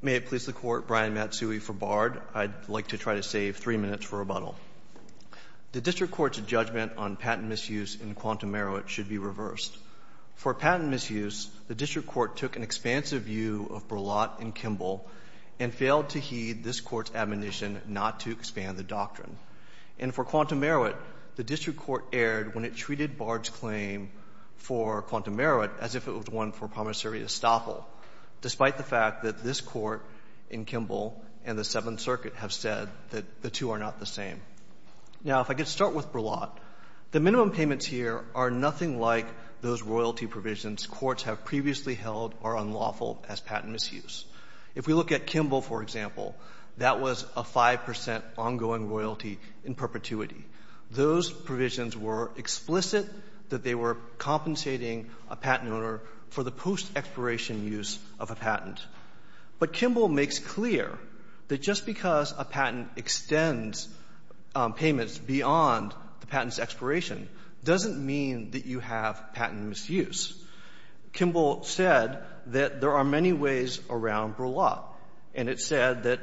May it please the Court, Brian Matsui for Bard. I'd like to try to save three minutes for rebuttal. The District Court's judgment on patent misuse in Quantum Marowit should be reversed. For patent misuse, the District Court took an expansive view of Berlotte and Kimball and failed to heed this Court's admonition not to expand the doctrine. And for Quantum Marowit, the District Court erred when it treated Bard's claim for Quantum Marowit as if it was one for promissory estoppel, despite the fact that this Court in Kimball and the Seventh Circuit have said that the two are not the same. Now, if I could start with Berlotte, the minimum payments here are nothing like those royalty provisions courts have previously held are unlawful as patent misuse. If we look at Kimball, for example, that was a 5 percent ongoing royalty in perpetuity. Those provisions were explicit that they were compensating a patent owner for the post-expiration use of a patent. But Kimball makes clear that just because a patent extends payments beyond the patent's expiration doesn't mean that you have patent misuse. Kimball said that there are many ways around Berlotte, and it said that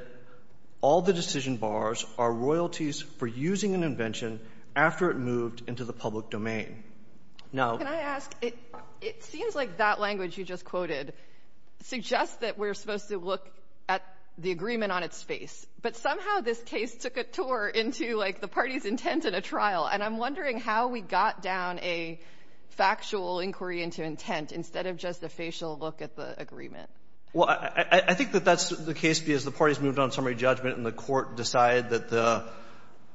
all the decision bars are royalties for using an invention after it moved into the public domain. Now — Sotomayor, it seems like that language you just quoted suggests that we're supposed to look at the agreement on its face, but somehow this case took a tour into, like, the party's intent in a trial. And I'm wondering how we got down a factual inquiry into intent instead of just a facial look at the agreement. Well, I think that that's the case because the parties moved on summary judgment and the court decided that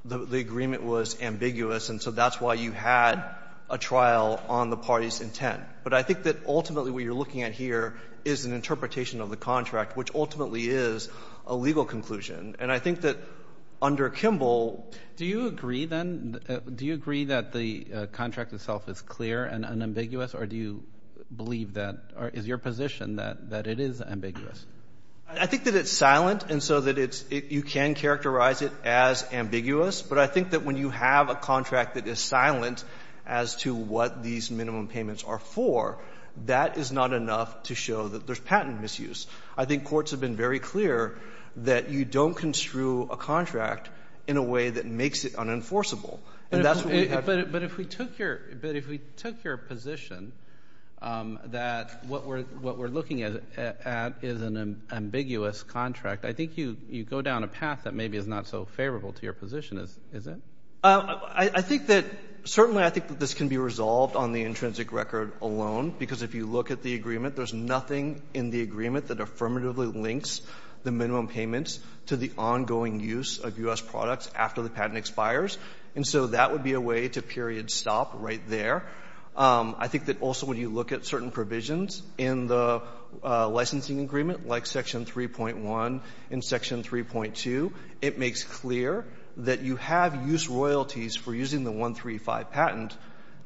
the agreement was ambiguous, and so that's why you had a trial on the party's intent. But I think that ultimately what you're looking at here is an interpretation of the contract, which ultimately is a legal conclusion. And I think that under Kimball — Do you agree, then? Do you agree that the contract itself is clear and unambiguous, or do you believe that — or is your position that it is ambiguous? I think that it's silent, and so that it's — you can characterize it as ambiguous, but I think that when you have a contract that is silent as to what these minimum payments are for, that is not enough to show that there's patent misuse. I think courts have been very clear that you don't construe a contract in a way that makes it unenforceable, and that's what we have here. But if we took your position that what we're looking at is an ambiguous contract, I think you go down a path that maybe is not so favorable to your position, is it? I think that — certainly I think that this can be resolved on the intrinsic record alone because if you look at the agreement, there's nothing in the agreement that affirmatively links the minimum payments to the ongoing use of U.S. products after the patent expires. And so that would be a way to period stop right there. I think that also when you look at certain provisions in the licensing agreement, like Section 3.1 and Section 3.2, it makes clear that you have use royalties for using the 135 patent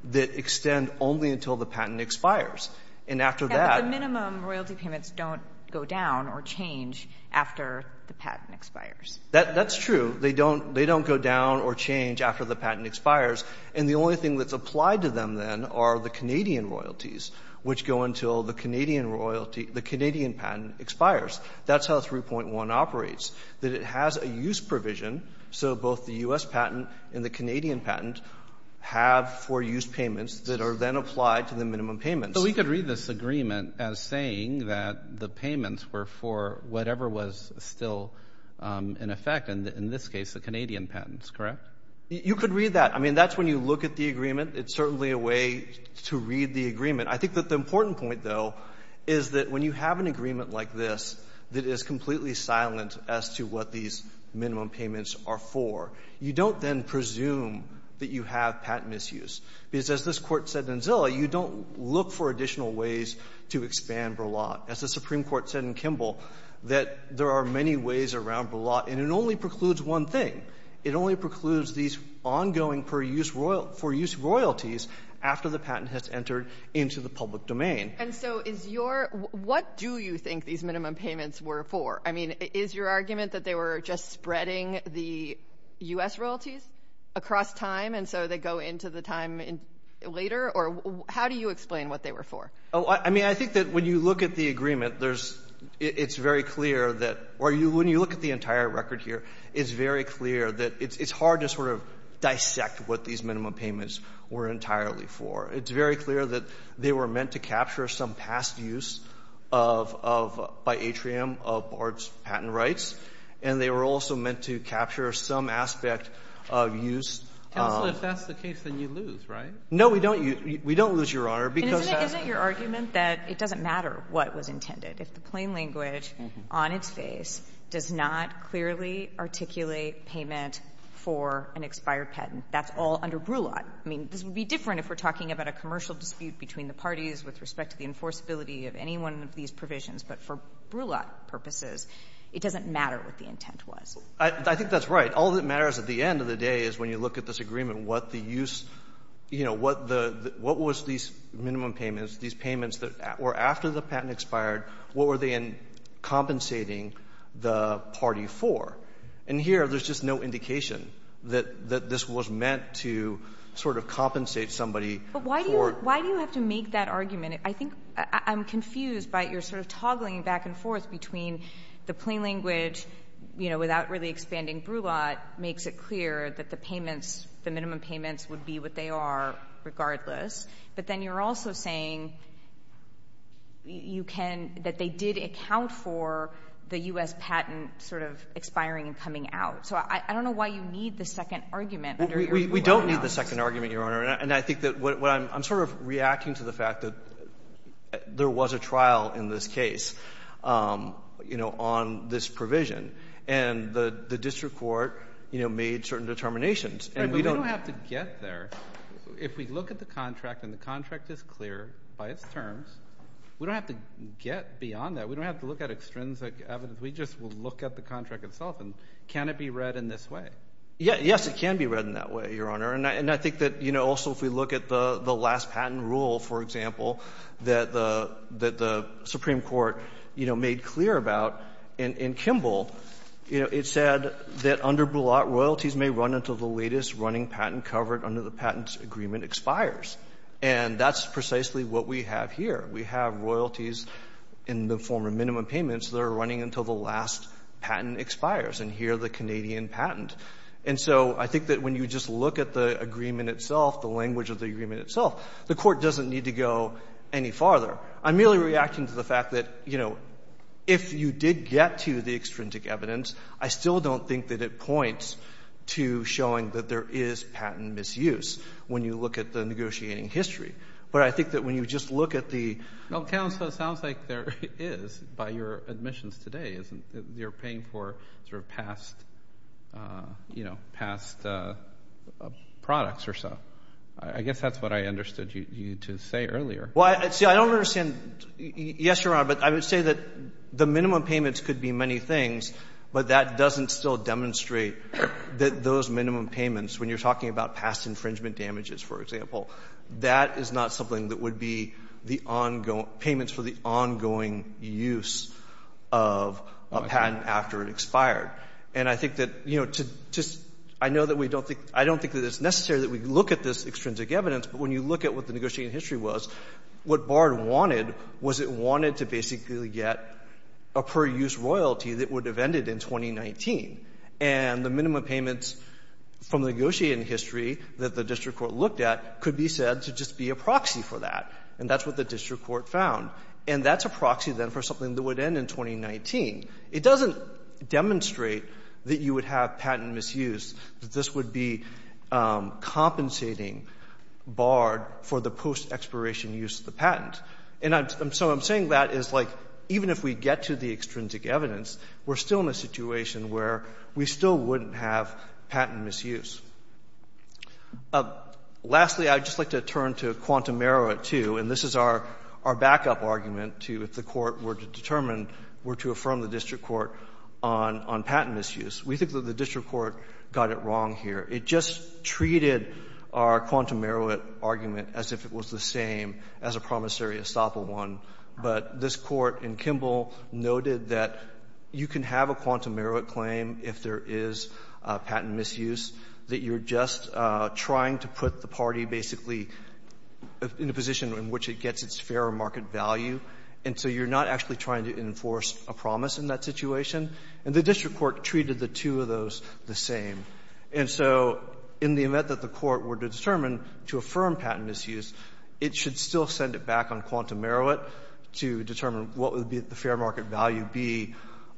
that extend only until the patent expires. And after that — But the minimum royalty payments don't go down or change after the patent expires. That's true. They don't — they don't go down or change after the patent expires. And the only thing that's applied to them, then, are the Canadian royalties, which go until the Canadian royalty — the Canadian patent expires. That's how 3.1 operates, that it has a use provision so both the U.S. patent and the Canadian patent have four use payments that are then applied to the minimum payments. But we could read this agreement as saying that the payments were for whatever was still in effect, and in this case, the Canadian patents, correct? You could read that. I mean, that's when you look at the agreement. It's certainly a way to read the agreement. I think that the important point, though, is that when you have an agreement like this that is completely silent as to what these minimum payments are for, you don't then presume that you have patent misuse. Because as this Court said in Zillow, you don't look for additional ways to expand Verlotte. As the Supreme Court said in Kimball, that there are many ways around Verlotte. And it only precludes one thing. It only precludes these ongoing per-use royalties after the patent has entered into the public domain. And so is your — what do you think these minimum payments were for? I mean, is your argument that they were just spreading the U.S. royalties across time, and so they go into the time later? Or how do you explain what they were for? I mean, I think that when you look at the agreement, there's — it's very clear that — or when you look at the entire record here, it's very clear that it's hard to sort of dissect what these minimum payments were entirely for. It's very clear that they were meant to capture some past use of — of — by Atrium of BART's patent rights, and they were also meant to capture some aspect of use. Counsel, if that's the case, then you lose, right? No, we don't. We don't lose, Your Honor. Isn't it your argument that it doesn't matter what was intended? If the plain language on its face does not clearly articulate payment for an expired patent, that's all under Broulot. I mean, this would be different if we're talking about a commercial dispute between the parties with respect to the enforceability of any one of these provisions. But for Broulot purposes, it doesn't matter what the intent was. I think that's right. All that matters at the end of the day is when you look at this agreement, what the use — you know, what the — what was these minimum payments, these payments that were after the patent expired, what were they in compensating the party for? And here, there's just no indication that this was meant to sort of compensate somebody for — But why do you — why do you have to make that argument? I think I'm confused by your sort of toggling back and forth between the plain language, you know, without really expanding Broulot, makes it clear that the payments — the minimum payments would be what they are regardless. But then you're also saying you can — that they did account for the U.S. patent sort of expiring and coming out. So I don't know why you need the second argument under your — We don't need the second argument, Your Honor. And I think that what I'm — I'm sort of reacting to the fact that there was a trial in this case, you know, on this provision. And the district court, you know, made certain determinations. But we don't have to get there. If we look at the contract and the contract is clear by its terms, we don't have to get beyond that. We don't have to look at extrinsic evidence. We just will look at the contract itself. And can it be read in this way? Yes, it can be read in that way, Your Honor. And I think that, you know, also if we look at the last patent rule, for example, that the Supreme Court, you know, made clear about in Kimball, you know, it said that under Bullock, royalties may run until the latest running patent covered under the patent agreement expires. And that's precisely what we have here. We have royalties in the form of minimum payments that are running until the last patent expires, and here the Canadian patent. And so I think that when you just look at the agreement itself, the language of the agreement itself, the Court doesn't need to go any farther. I'm merely reacting to the fact that, you know, if you did get to the extrinsic evidence, I still don't think that it points to showing that there is patent misuse when you look at the negotiating history. But I think that when you just look at the — Well, counsel, it sounds like there is by your admissions today. You're paying for sort of past, you know, past products or so. I guess that's what I understood you to say earlier. Well, see, I don't understand. Yes, Your Honor, but I would say that the minimum payments could be many things, but that doesn't still demonstrate that those minimum payments, when you're talking about past infringement damages, for example, that is not something that would be the ongoing — payments for the ongoing use of a patent after it expired. And I think that, you know, to just — I know that we don't think — I don't think that it's necessary that we look at this extrinsic evidence, but when you look at what the negotiating history was, what Bard wanted was it wanted to basically get a per-use royalty that would have ended in 2019. And the minimum payments from the negotiating history that the district court looked at could be said to just be a proxy for that. And that's what the district court found. And that's a proxy, then, for something that would end in 2019. It doesn't demonstrate that you would have patent misuse, that this would be compensating Bard for the post-expiration use of the patent. And I'm — so I'm saying that is, like, even if we get to the extrinsic evidence, we're still in a situation where we still wouldn't have patent misuse. Lastly, I would just like to turn to quantum error at two. And this is our backup argument to if the Court were to determine, were to affirm the district court on patent misuse. We think that the district court got it wrong here. It just treated our quantum error argument as if it was the same as a promissory estoppel one. But this Court in Kimball noted that you can have a quantum error claim if there is patent misuse, that you're just trying to put the party basically in a position in which it gets its fair market value. And so you're not actually trying to enforce a promise in that situation. And the district court treated the two of those the same. And so in the event that the Court were to determine to affirm patent misuse, it should still send it back on quantum error to determine what would be the fair market value be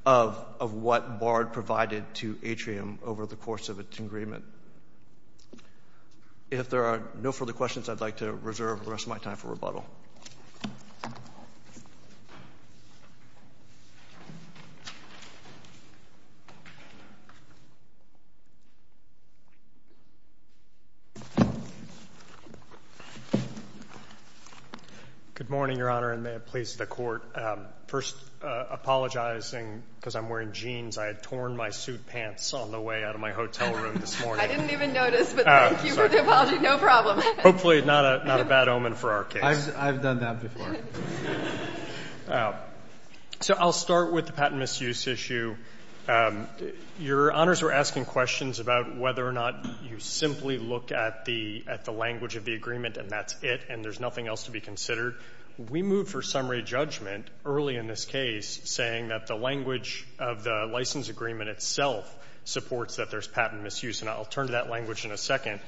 of what Bard provided to Atrium over the course of its agreement. If there are no further questions, I'd like to reserve the rest of my time for rebuttal. Good morning, Your Honor, and may it please the Court. First, apologizing because I'm wearing jeans. I had torn my suit pants on the way out of my hotel room this morning. I didn't even notice, but thank you for the apology. No problem. Hopefully not a bad omen for our case. I've done that before. So I'll start with the patent misuse issue. Your Honors were asking questions about whether or not you simply look at the language of the agreement and that's it, and there's nothing else to be considered. We moved for summary judgment early in this case, saying that the language of the license agreement itself supports that there's patent misuse. And I'll turn to that language in a second.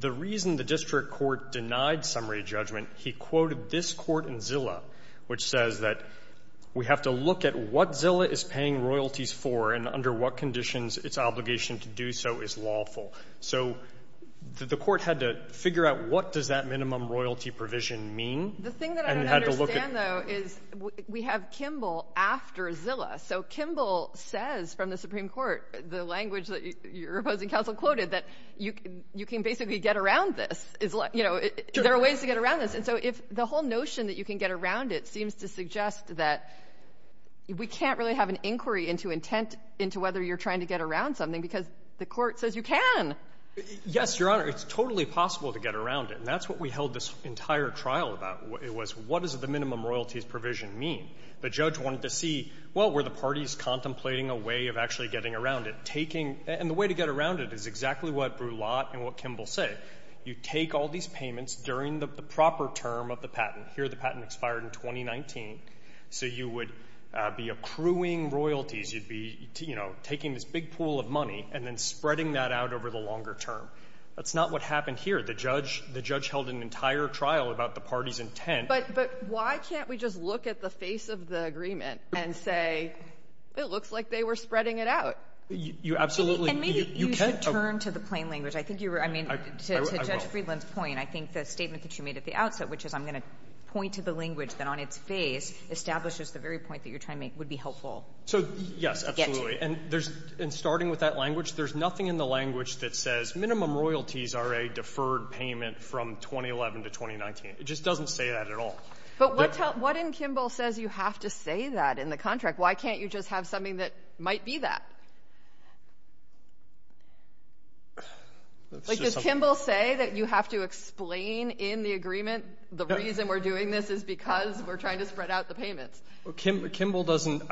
The reason the district court denied summary judgment, he quoted this court in Zillow, which says that we have to look at what Zillow is paying royalties for and under what conditions its obligation to do so is lawful. So the court had to figure out what does that minimum royalty provision mean. The thing that I don't understand, though, is we have Kimball after Zillow. So Kimball says from the Supreme Court, the language that your opposing counsel quoted, that you can basically get around this. You know, there are ways to get around this. And so if the whole notion that you can get around it seems to suggest that we can't really have an inquiry into intent into whether you're trying to get around something because the court says you can. Yes, Your Honor. It's totally possible to get around it. And that's what we held this entire trial about. It was what does the minimum royalties provision mean. The judge wanted to see, well, were the parties contemplating a way of actually getting around it? And the way to get around it is exactly what Brulat and what Kimball say. You take all these payments during the proper term of the patent. Here the patent expired in 2019. So you would be accruing royalties. You'd be, you know, taking this big pool of money and then spreading that out over the longer term. That's not what happened here. The judge held an entire trial about the party's intent. But why can't we just look at the face of the agreement and say it looks like they were spreading it out? You absolutely can. And maybe you should turn to the plain language. I think you were, I mean, to Judge Friedland's point, I think the statement that you made at the outset, which is I'm going to point to the language that on its face establishes the very point that you're trying to make would be helpful. So, yes, absolutely. And there's, in starting with that language, there's nothing in the language that says minimum royalties are a deferred payment from 2011 to 2019. It just doesn't say that at all. But what in Kimball says you have to say that in the contract? Why can't you just have something that might be that? Does Kimball say that you have to explain in the agreement the reason we're doing this is because we're trying to spread out the payments? Kimball doesn't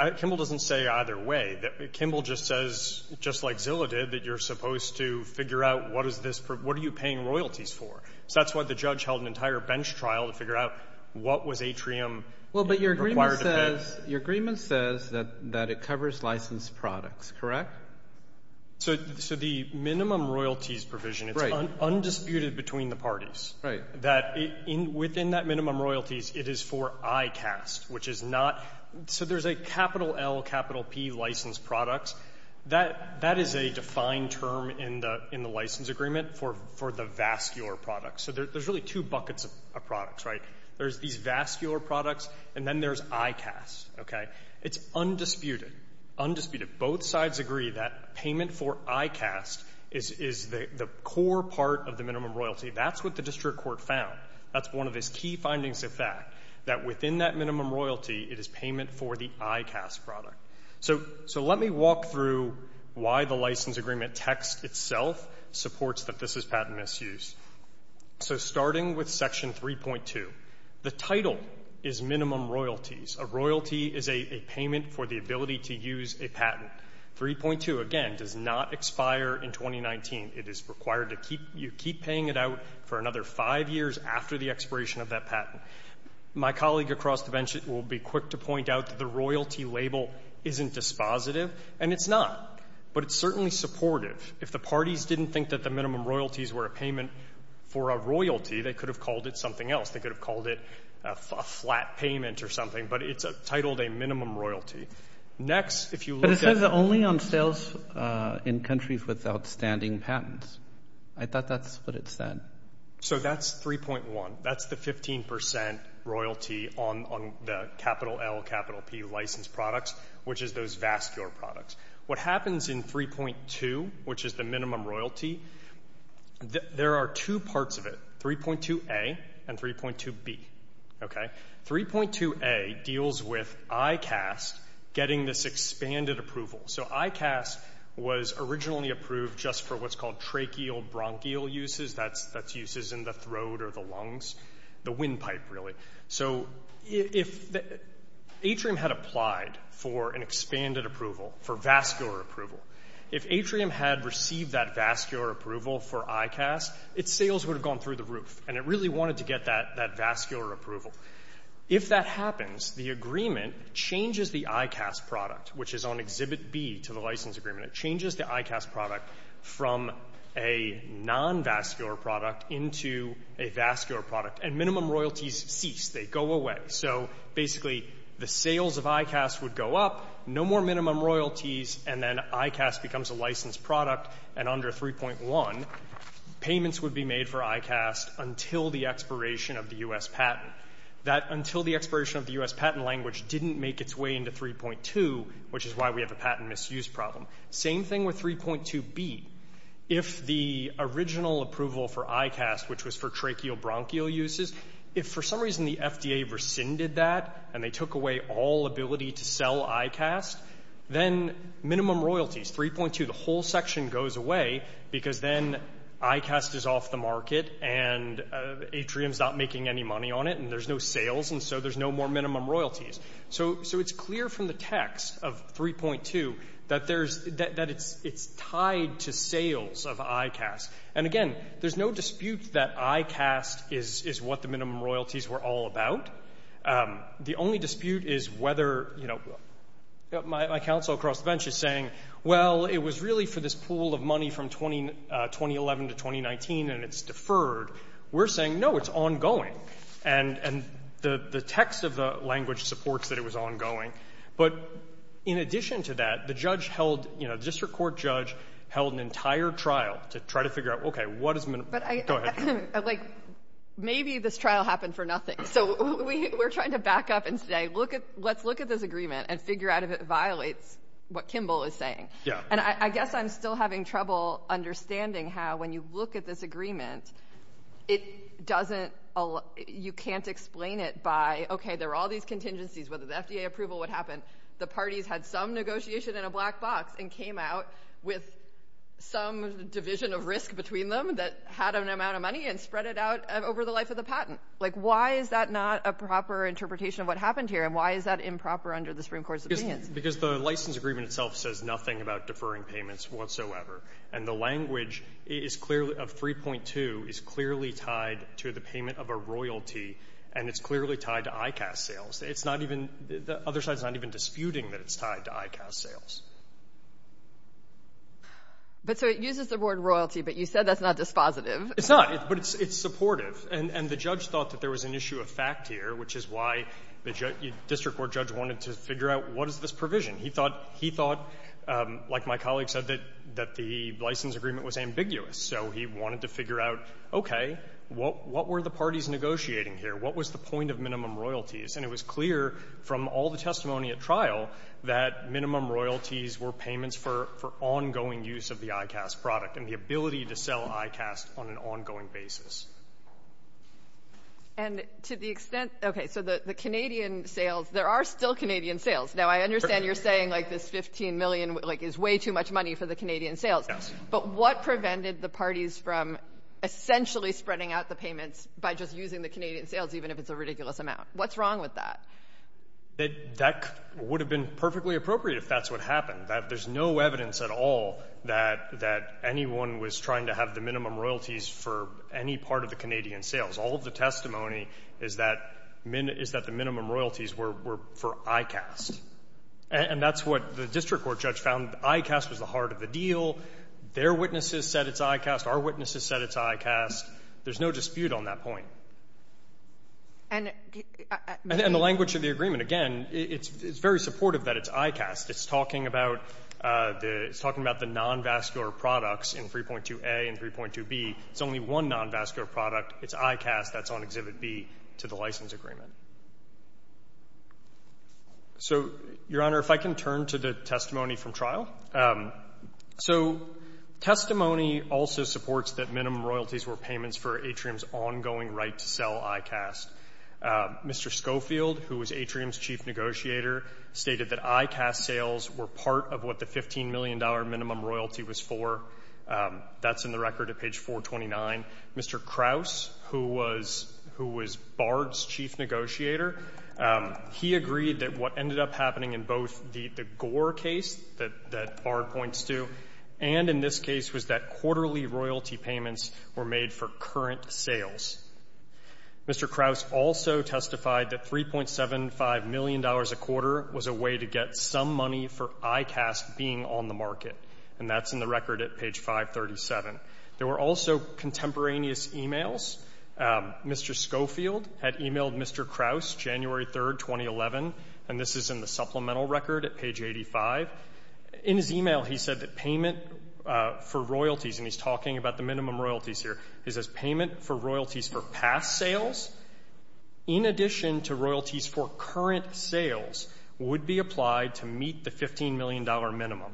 say either way. Kimball just says, just like Zillow did, that you're supposed to figure out what is this, what are you paying royalties for? So that's why the judge held an entire bench trial to figure out what was atrium required to pay. Well, but your agreement says that it covers licensed products, correct? So the minimum royalties provision, it's undisputed between the parties. Right. That within that minimum royalties, it is for ICAST, which is not so there's a capital L, capital P licensed products. That is a defined term in the license agreement for the vascular products. So there's really two buckets of products, right? There's these vascular products, and then there's ICAST. Okay? It's undisputed, undisputed. Both sides agree that payment for ICAST is the core part of the minimum royalty. That's what the district court found. That's one of his key findings of fact, that within that minimum royalty, it is payment for the ICAST product. So let me walk through why the license agreement text itself supports that this is patent misuse. So starting with Section 3.2, the title is minimum royalties. A royalty is a payment for the ability to use a patent. 3.2, again, does not expire in 2019. It is required to keep you keep paying it out for another five years after the expiration of that patent. My colleague across the bench will be quick to point out that the royalty label isn't dispositive, and it's not. But it's certainly supportive. If the parties didn't think that the minimum royalties were a payment for a royalty, they could have called it something else. They could have called it a flat payment or something, but it's titled a minimum royalty. Next, if you look at... But it says only on sales in countries with outstanding patents. I thought that's what it said. So that's 3.1. That's the 15 percent royalty on the capital L, capital P license products, which is those vascular products. What happens in 3.2, which is the minimum royalty, there are two parts of it, 3.2A and 3.2B. Okay? 3.2A deals with ICAST getting this expanded approval. So ICAST was originally approved just for what's called tracheal bronchial uses. That's uses in the throat or the lungs, the windpipe, really. So if Atrium had applied for an expanded approval, for vascular approval, if Atrium had received that vascular approval for ICAST, its sales would have gone through the roof, and it really wanted to get that vascular approval. If that happens, the agreement changes the ICAST product, which is on Exhibit B to the license agreement. It changes the ICAST product from a non-vascular product into a vascular product, and minimum royalties cease. They go away. So basically the sales of ICAST would go up, no more minimum royalties, and then ICAST becomes a licensed product, and under 3.1, payments would be made for ICAST until the expiration of the U.S. patent. That until the expiration of the U.S. patent language didn't make its way into 3.2, which is why we have a patent misuse problem. Same thing with 3.2B. If the original approval for ICAST, which was for tracheobronchial uses, if for some reason the FDA rescinded that and they took away all ability to sell ICAST, then minimum royalties, 3.2, the whole section goes away because then ICAST is off the market and Atrium is not making any money on it, and there's no sales, and so there's no more minimum royalties. So it's clear from the text of 3.2 that it's tied to sales of ICAST. And again, there's no dispute that ICAST is what the minimum royalties were all about. The only dispute is whether, you know, my counsel across the bench is saying, well, it was really for this pool of money from 2011 to 2019 and it's deferred. We're saying, no, it's ongoing. And the text of the language supports that it was ongoing. But in addition to that, the judge held, you know, the district court judge held an entire trial to try to figure out, okay, what is the minimum? But, like, maybe this trial happened for nothing. So we're trying to back up and say, let's look at this agreement and figure out if it violates what Kimball is saying. Yeah. And I guess I'm still having trouble understanding how, when you look at this agreement, it doesn't allow — you can't explain it by, okay, there were all these contingencies, whether the FDA approval would happen. The parties had some negotiation in a black box and came out with some division of risk between them that had an amount of money and spread it out over the life of the patent. Like, why is that not a proper interpretation of what happened here? And why is that improper under the Supreme Court's opinion? Because the license agreement itself says nothing about deferring payments whatsoever. And the language is clearly — of 3.2 is clearly tied to the payment of a royalty, and it's clearly tied to ICAS sales. It's not even — the other side is not even disputing that it's tied to ICAS sales. But so it uses the word royalty, but you said that's not dispositive. It's not. But it's supportive. And the judge thought that there was an issue of fact here, which is why the district court judge wanted to figure out what is this provision. He thought, like my colleague said, that the license agreement was ambiguous. So he wanted to figure out, okay, what were the parties negotiating here? What was the point of minimum royalties? And it was clear from all the testimony at trial that minimum royalties were payments for ongoing use of the ICAS product and the ability to sell ICAS on an ongoing basis. And to the extent — okay, so the Canadian sales, there are still Canadian sales. Now, I understand you're saying, like, this $15 million, like, is way too much money for the Canadian sales. Yes. But what prevented the parties from essentially spreading out the payments by just using the Canadian sales, even if it's a ridiculous amount? What's wrong with that? That would have been perfectly appropriate if that's what happened, that there's no evidence at all that anyone was trying to have the minimum royalties for any part of the Canadian sales. All of the testimony is that the minimum royalties were for ICAS. And that's what the district court judge found. ICAS was the heart of the deal. Their witnesses said it's ICAS. Our witnesses said it's ICAS. There's no dispute on that point. And the language of the agreement, again, it's very supportive that it's ICAS. It's talking about the nonvascular products in 3.2a and 3.2b. It's only one nonvascular product. It's ICAS that's on Exhibit B to the license agreement. So, Your Honor, if I can turn to the testimony from trial. So testimony also supports that minimum royalties were payments for Atrium's ongoing right to sell ICAS. Mr. Schofield, who was Atrium's chief negotiator, stated that ICAS sales were part of what the $15 million minimum royalty was for. That's in the record at page 429. Mr. Krause, who was Bard's chief negotiator, he agreed that what ended up happening in both the Gore case that Bard points to and in this case was that quarterly royalty payments were made for current sales. Mr. Krause also testified that $3.75 million a quarter was a way to get some money for ICAS being on the market. And that's in the record at page 537. There were also contemporaneous e-mails. Mr. Schofield had e-mailed Mr. Krause January 3, 2011, and this is in the supplemental record at page 85. In his e-mail he said that payment for royalties, and he's talking about the minimum royalties here, he says payment for royalties for past sales in addition to royalties for current sales would be applied to meet the $15 million minimum.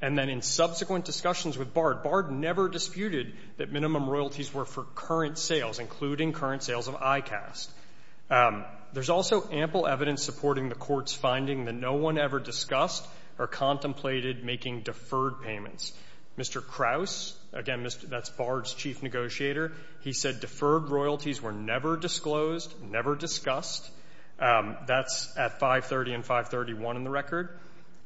And then in subsequent discussions with Bard, Bard never disputed that minimum royalties were for current sales, including current sales of ICAS. There's also ample evidence supporting the Court's finding that no one ever discussed or contemplated making deferred payments. Mr. Krause, again, that's Bard's chief negotiator, he said deferred royalties were never disclosed, never discussed. That's at 530 and 531 in the record.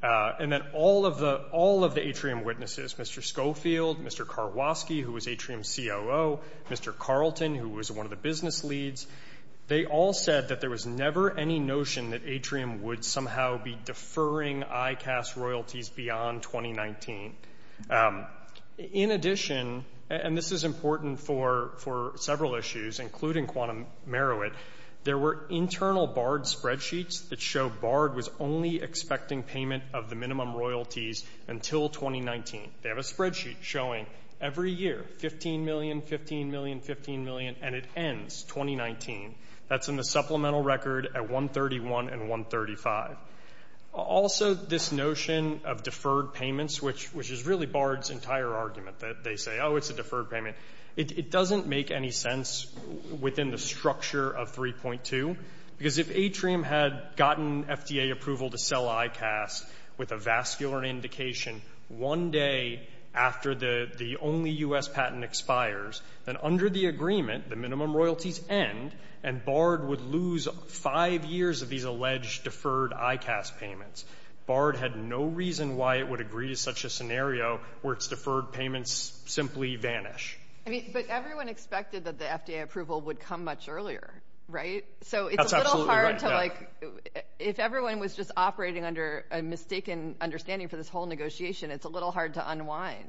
And then all of the atrium witnesses, Mr. Schofield, Mr. Karwoski, who was atrium COO, Mr. Carlton, who was one of the business leads, they all said that there was never any notion that atrium would somehow be deferring ICAS royalties beyond 2019. In addition, and this is important for several issues, including quantum merit, there were internal Bard spreadsheets that show Bard was only expecting payment of the minimum royalties until 2019. They have a spreadsheet showing every year $15 million, $15 million, $15 million, and it ends 2019. That's in the supplemental record at 131 and 135. Also, this notion of deferred payments, which is really Bard's entire argument, that they say, oh, it's a deferred payment, it doesn't make any sense within the structure of 3.2. Because if atrium had gotten FDA approval to sell ICAS with a vascular indication one day after the only U.S. patent expires, then under the agreement, the minimum royalties end, and Bard would lose five years of these alleged deferred ICAS payments. Bard had no reason why it would agree to such a scenario where its deferred payments simply vanish. But everyone expected that the FDA approval would come much earlier, right? That's absolutely right. If everyone was just operating under a mistaken understanding for this whole negotiation, it's a little hard to unwind.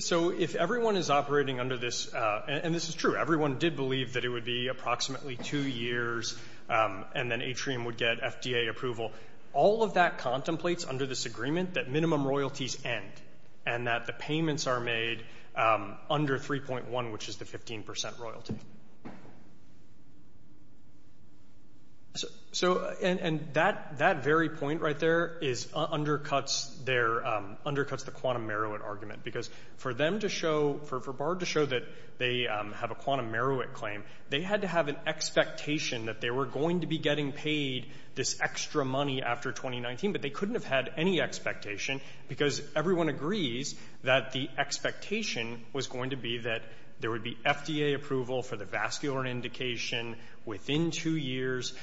So if everyone is operating under this, and this is true, everyone did believe that it would be approximately two years and then atrium would get FDA approval. All of that contemplates under this agreement that minimum royalties end and that the payments are made under 3.1, which is the 15% royalty. And that very point right there undercuts the quantum Merowit argument. Because for Bard to show that they have a quantum Merowit claim, they had to have an expectation that they were going to be getting paid this extra money after 2019, but they couldn't have had any expectation because everyone agrees that the expectation was going to be that there would be FDA approval for the vascular indication within two years.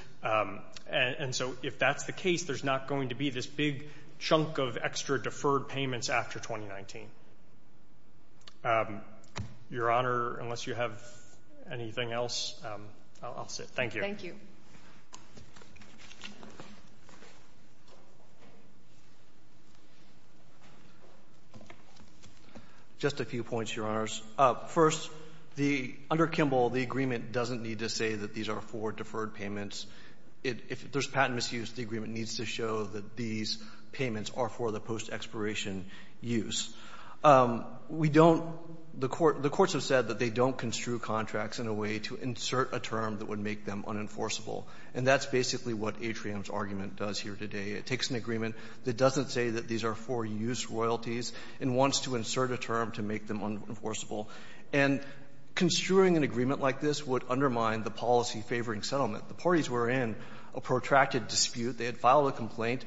And so if that's the case, there's not going to be this big chunk of extra deferred payments after 2019. Your Honor, unless you have anything else, I'll sit. Thank you. Thank you. Just a few points, Your Honors. First, under Kimball, the agreement doesn't need to say that these are for deferred payments. If there's patent misuse, the agreement needs to show that these payments are for the post-expiration use. We don't — the courts have said that they don't construe contracts in a way to insert a term that would make them unenforceable. And that's basically what Atrium's argument does here today. It takes an agreement that doesn't say that these are for-use royalties and wants to insert a term to make them unenforceable. And construing an agreement like this would undermine the policy favoring settlement. The parties were in a protracted dispute. They had filed a complaint.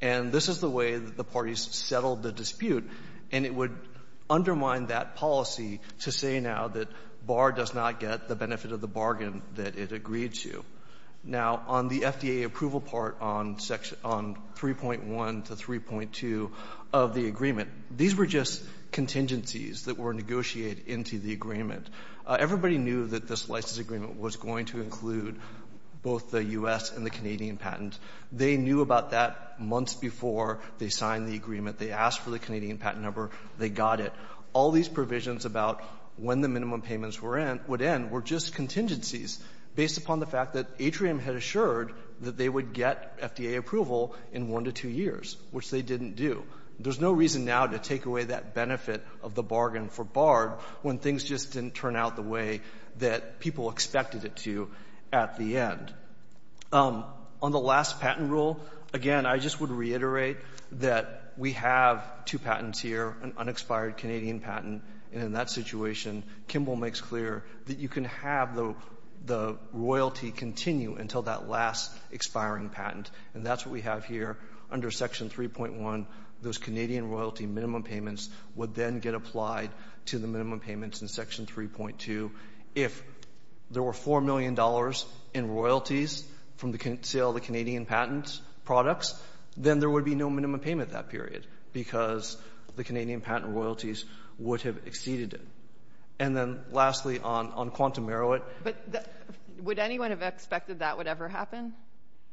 And this is the way that the parties settled the dispute. And it would undermine that policy to say now that Bard does not get the benefit of the bargain that it agreed to. Now, on the FDA approval part on section — on 3.1 to 3.2 of the agreement, these were just contingencies that were negotiated into the agreement. Everybody knew that this license agreement was going to include both the U.S. and the Canadian patent. They knew about that months before they signed the agreement. They asked for the Canadian patent number. They got it. All these provisions about when the minimum payments were in — would end were just contingencies based upon the fact that Atrium had assured that they would get FDA approval in one to two years, which they didn't do. There's no reason now to take away that benefit of the bargain for Bard when things just didn't turn out the way that people expected it to at the end. On the last patent rule, again, I just would reiterate that we have two patents here, an unexpired Canadian patent. And in that situation, Kimball makes clear that you can have the — the royalty continue until that last expiring patent. And that's what we have here under section 3.1. Those Canadian royalty minimum payments would then get applied to the minimum payments in section 3.2. If there were $4 million in royalties from the sale of the Canadian patent products, then there would be no minimum payment that period because the Canadian patent royalties would have exceeded it. And then, lastly, on Quantum Marrowett — But would anyone have expected that would ever happen,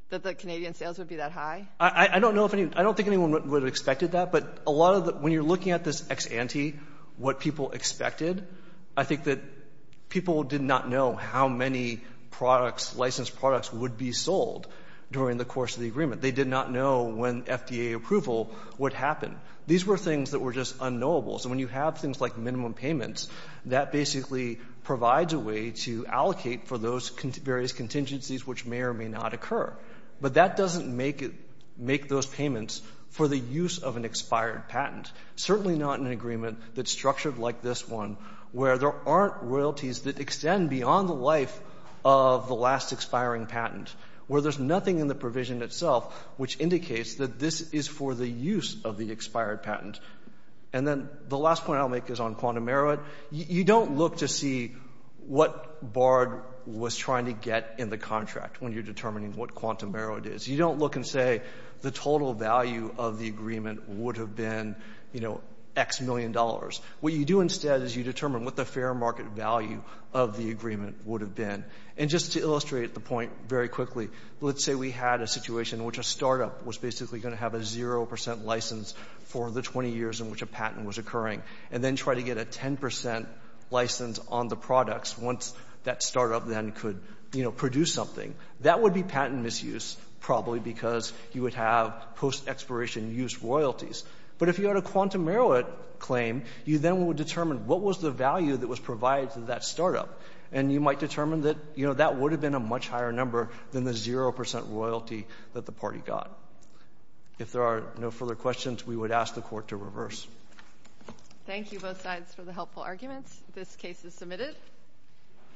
that the Canadian sales would be that high? I don't know if any — I don't think anyone would have expected that. But a lot of — when you're looking at this ex ante, what people expected, I think that people did not know how many products, licensed products, would be sold during the course of the agreement. They did not know when FDA approval would happen. These were things that were just unknowable. So when you have things like minimum payments, that basically provides a way to allocate for those various contingencies which may or may not occur. But that doesn't make it — make those payments for the use of an expired patent. Certainly not in an agreement that's structured like this one, where there aren't royalties that extend beyond the life of the last expiring patent, where there's nothing in the provision itself which indicates that this is for the use of the expired patent. And then the last point I'll make is on Quantum Marrowett. You don't look to see what Bard was trying to get in the contract when you're determining what Quantum Marrowett is. You don't look and say the total value of the agreement would have been, you know, X million dollars. What you do instead is you determine what the fair market value of the agreement would have been. And just to illustrate the point very quickly, let's say we had a situation in which a startup was basically going to have a 0 percent license for the 20 years in which a patent was occurring, and then try to get a 10 percent license on the products once that startup then could, you know, produce something. That would be patent misuse probably because you would have post-expiration use royalties. But if you had a Quantum Marrowett claim, you then would determine what was the value that was provided to that startup. And you might determine that, you know, that would have been a much higher number than the 0 percent royalty that the party got. If there are no further questions, we would ask the court to reverse. Thank you both sides for the helpful arguments. This case is submitted.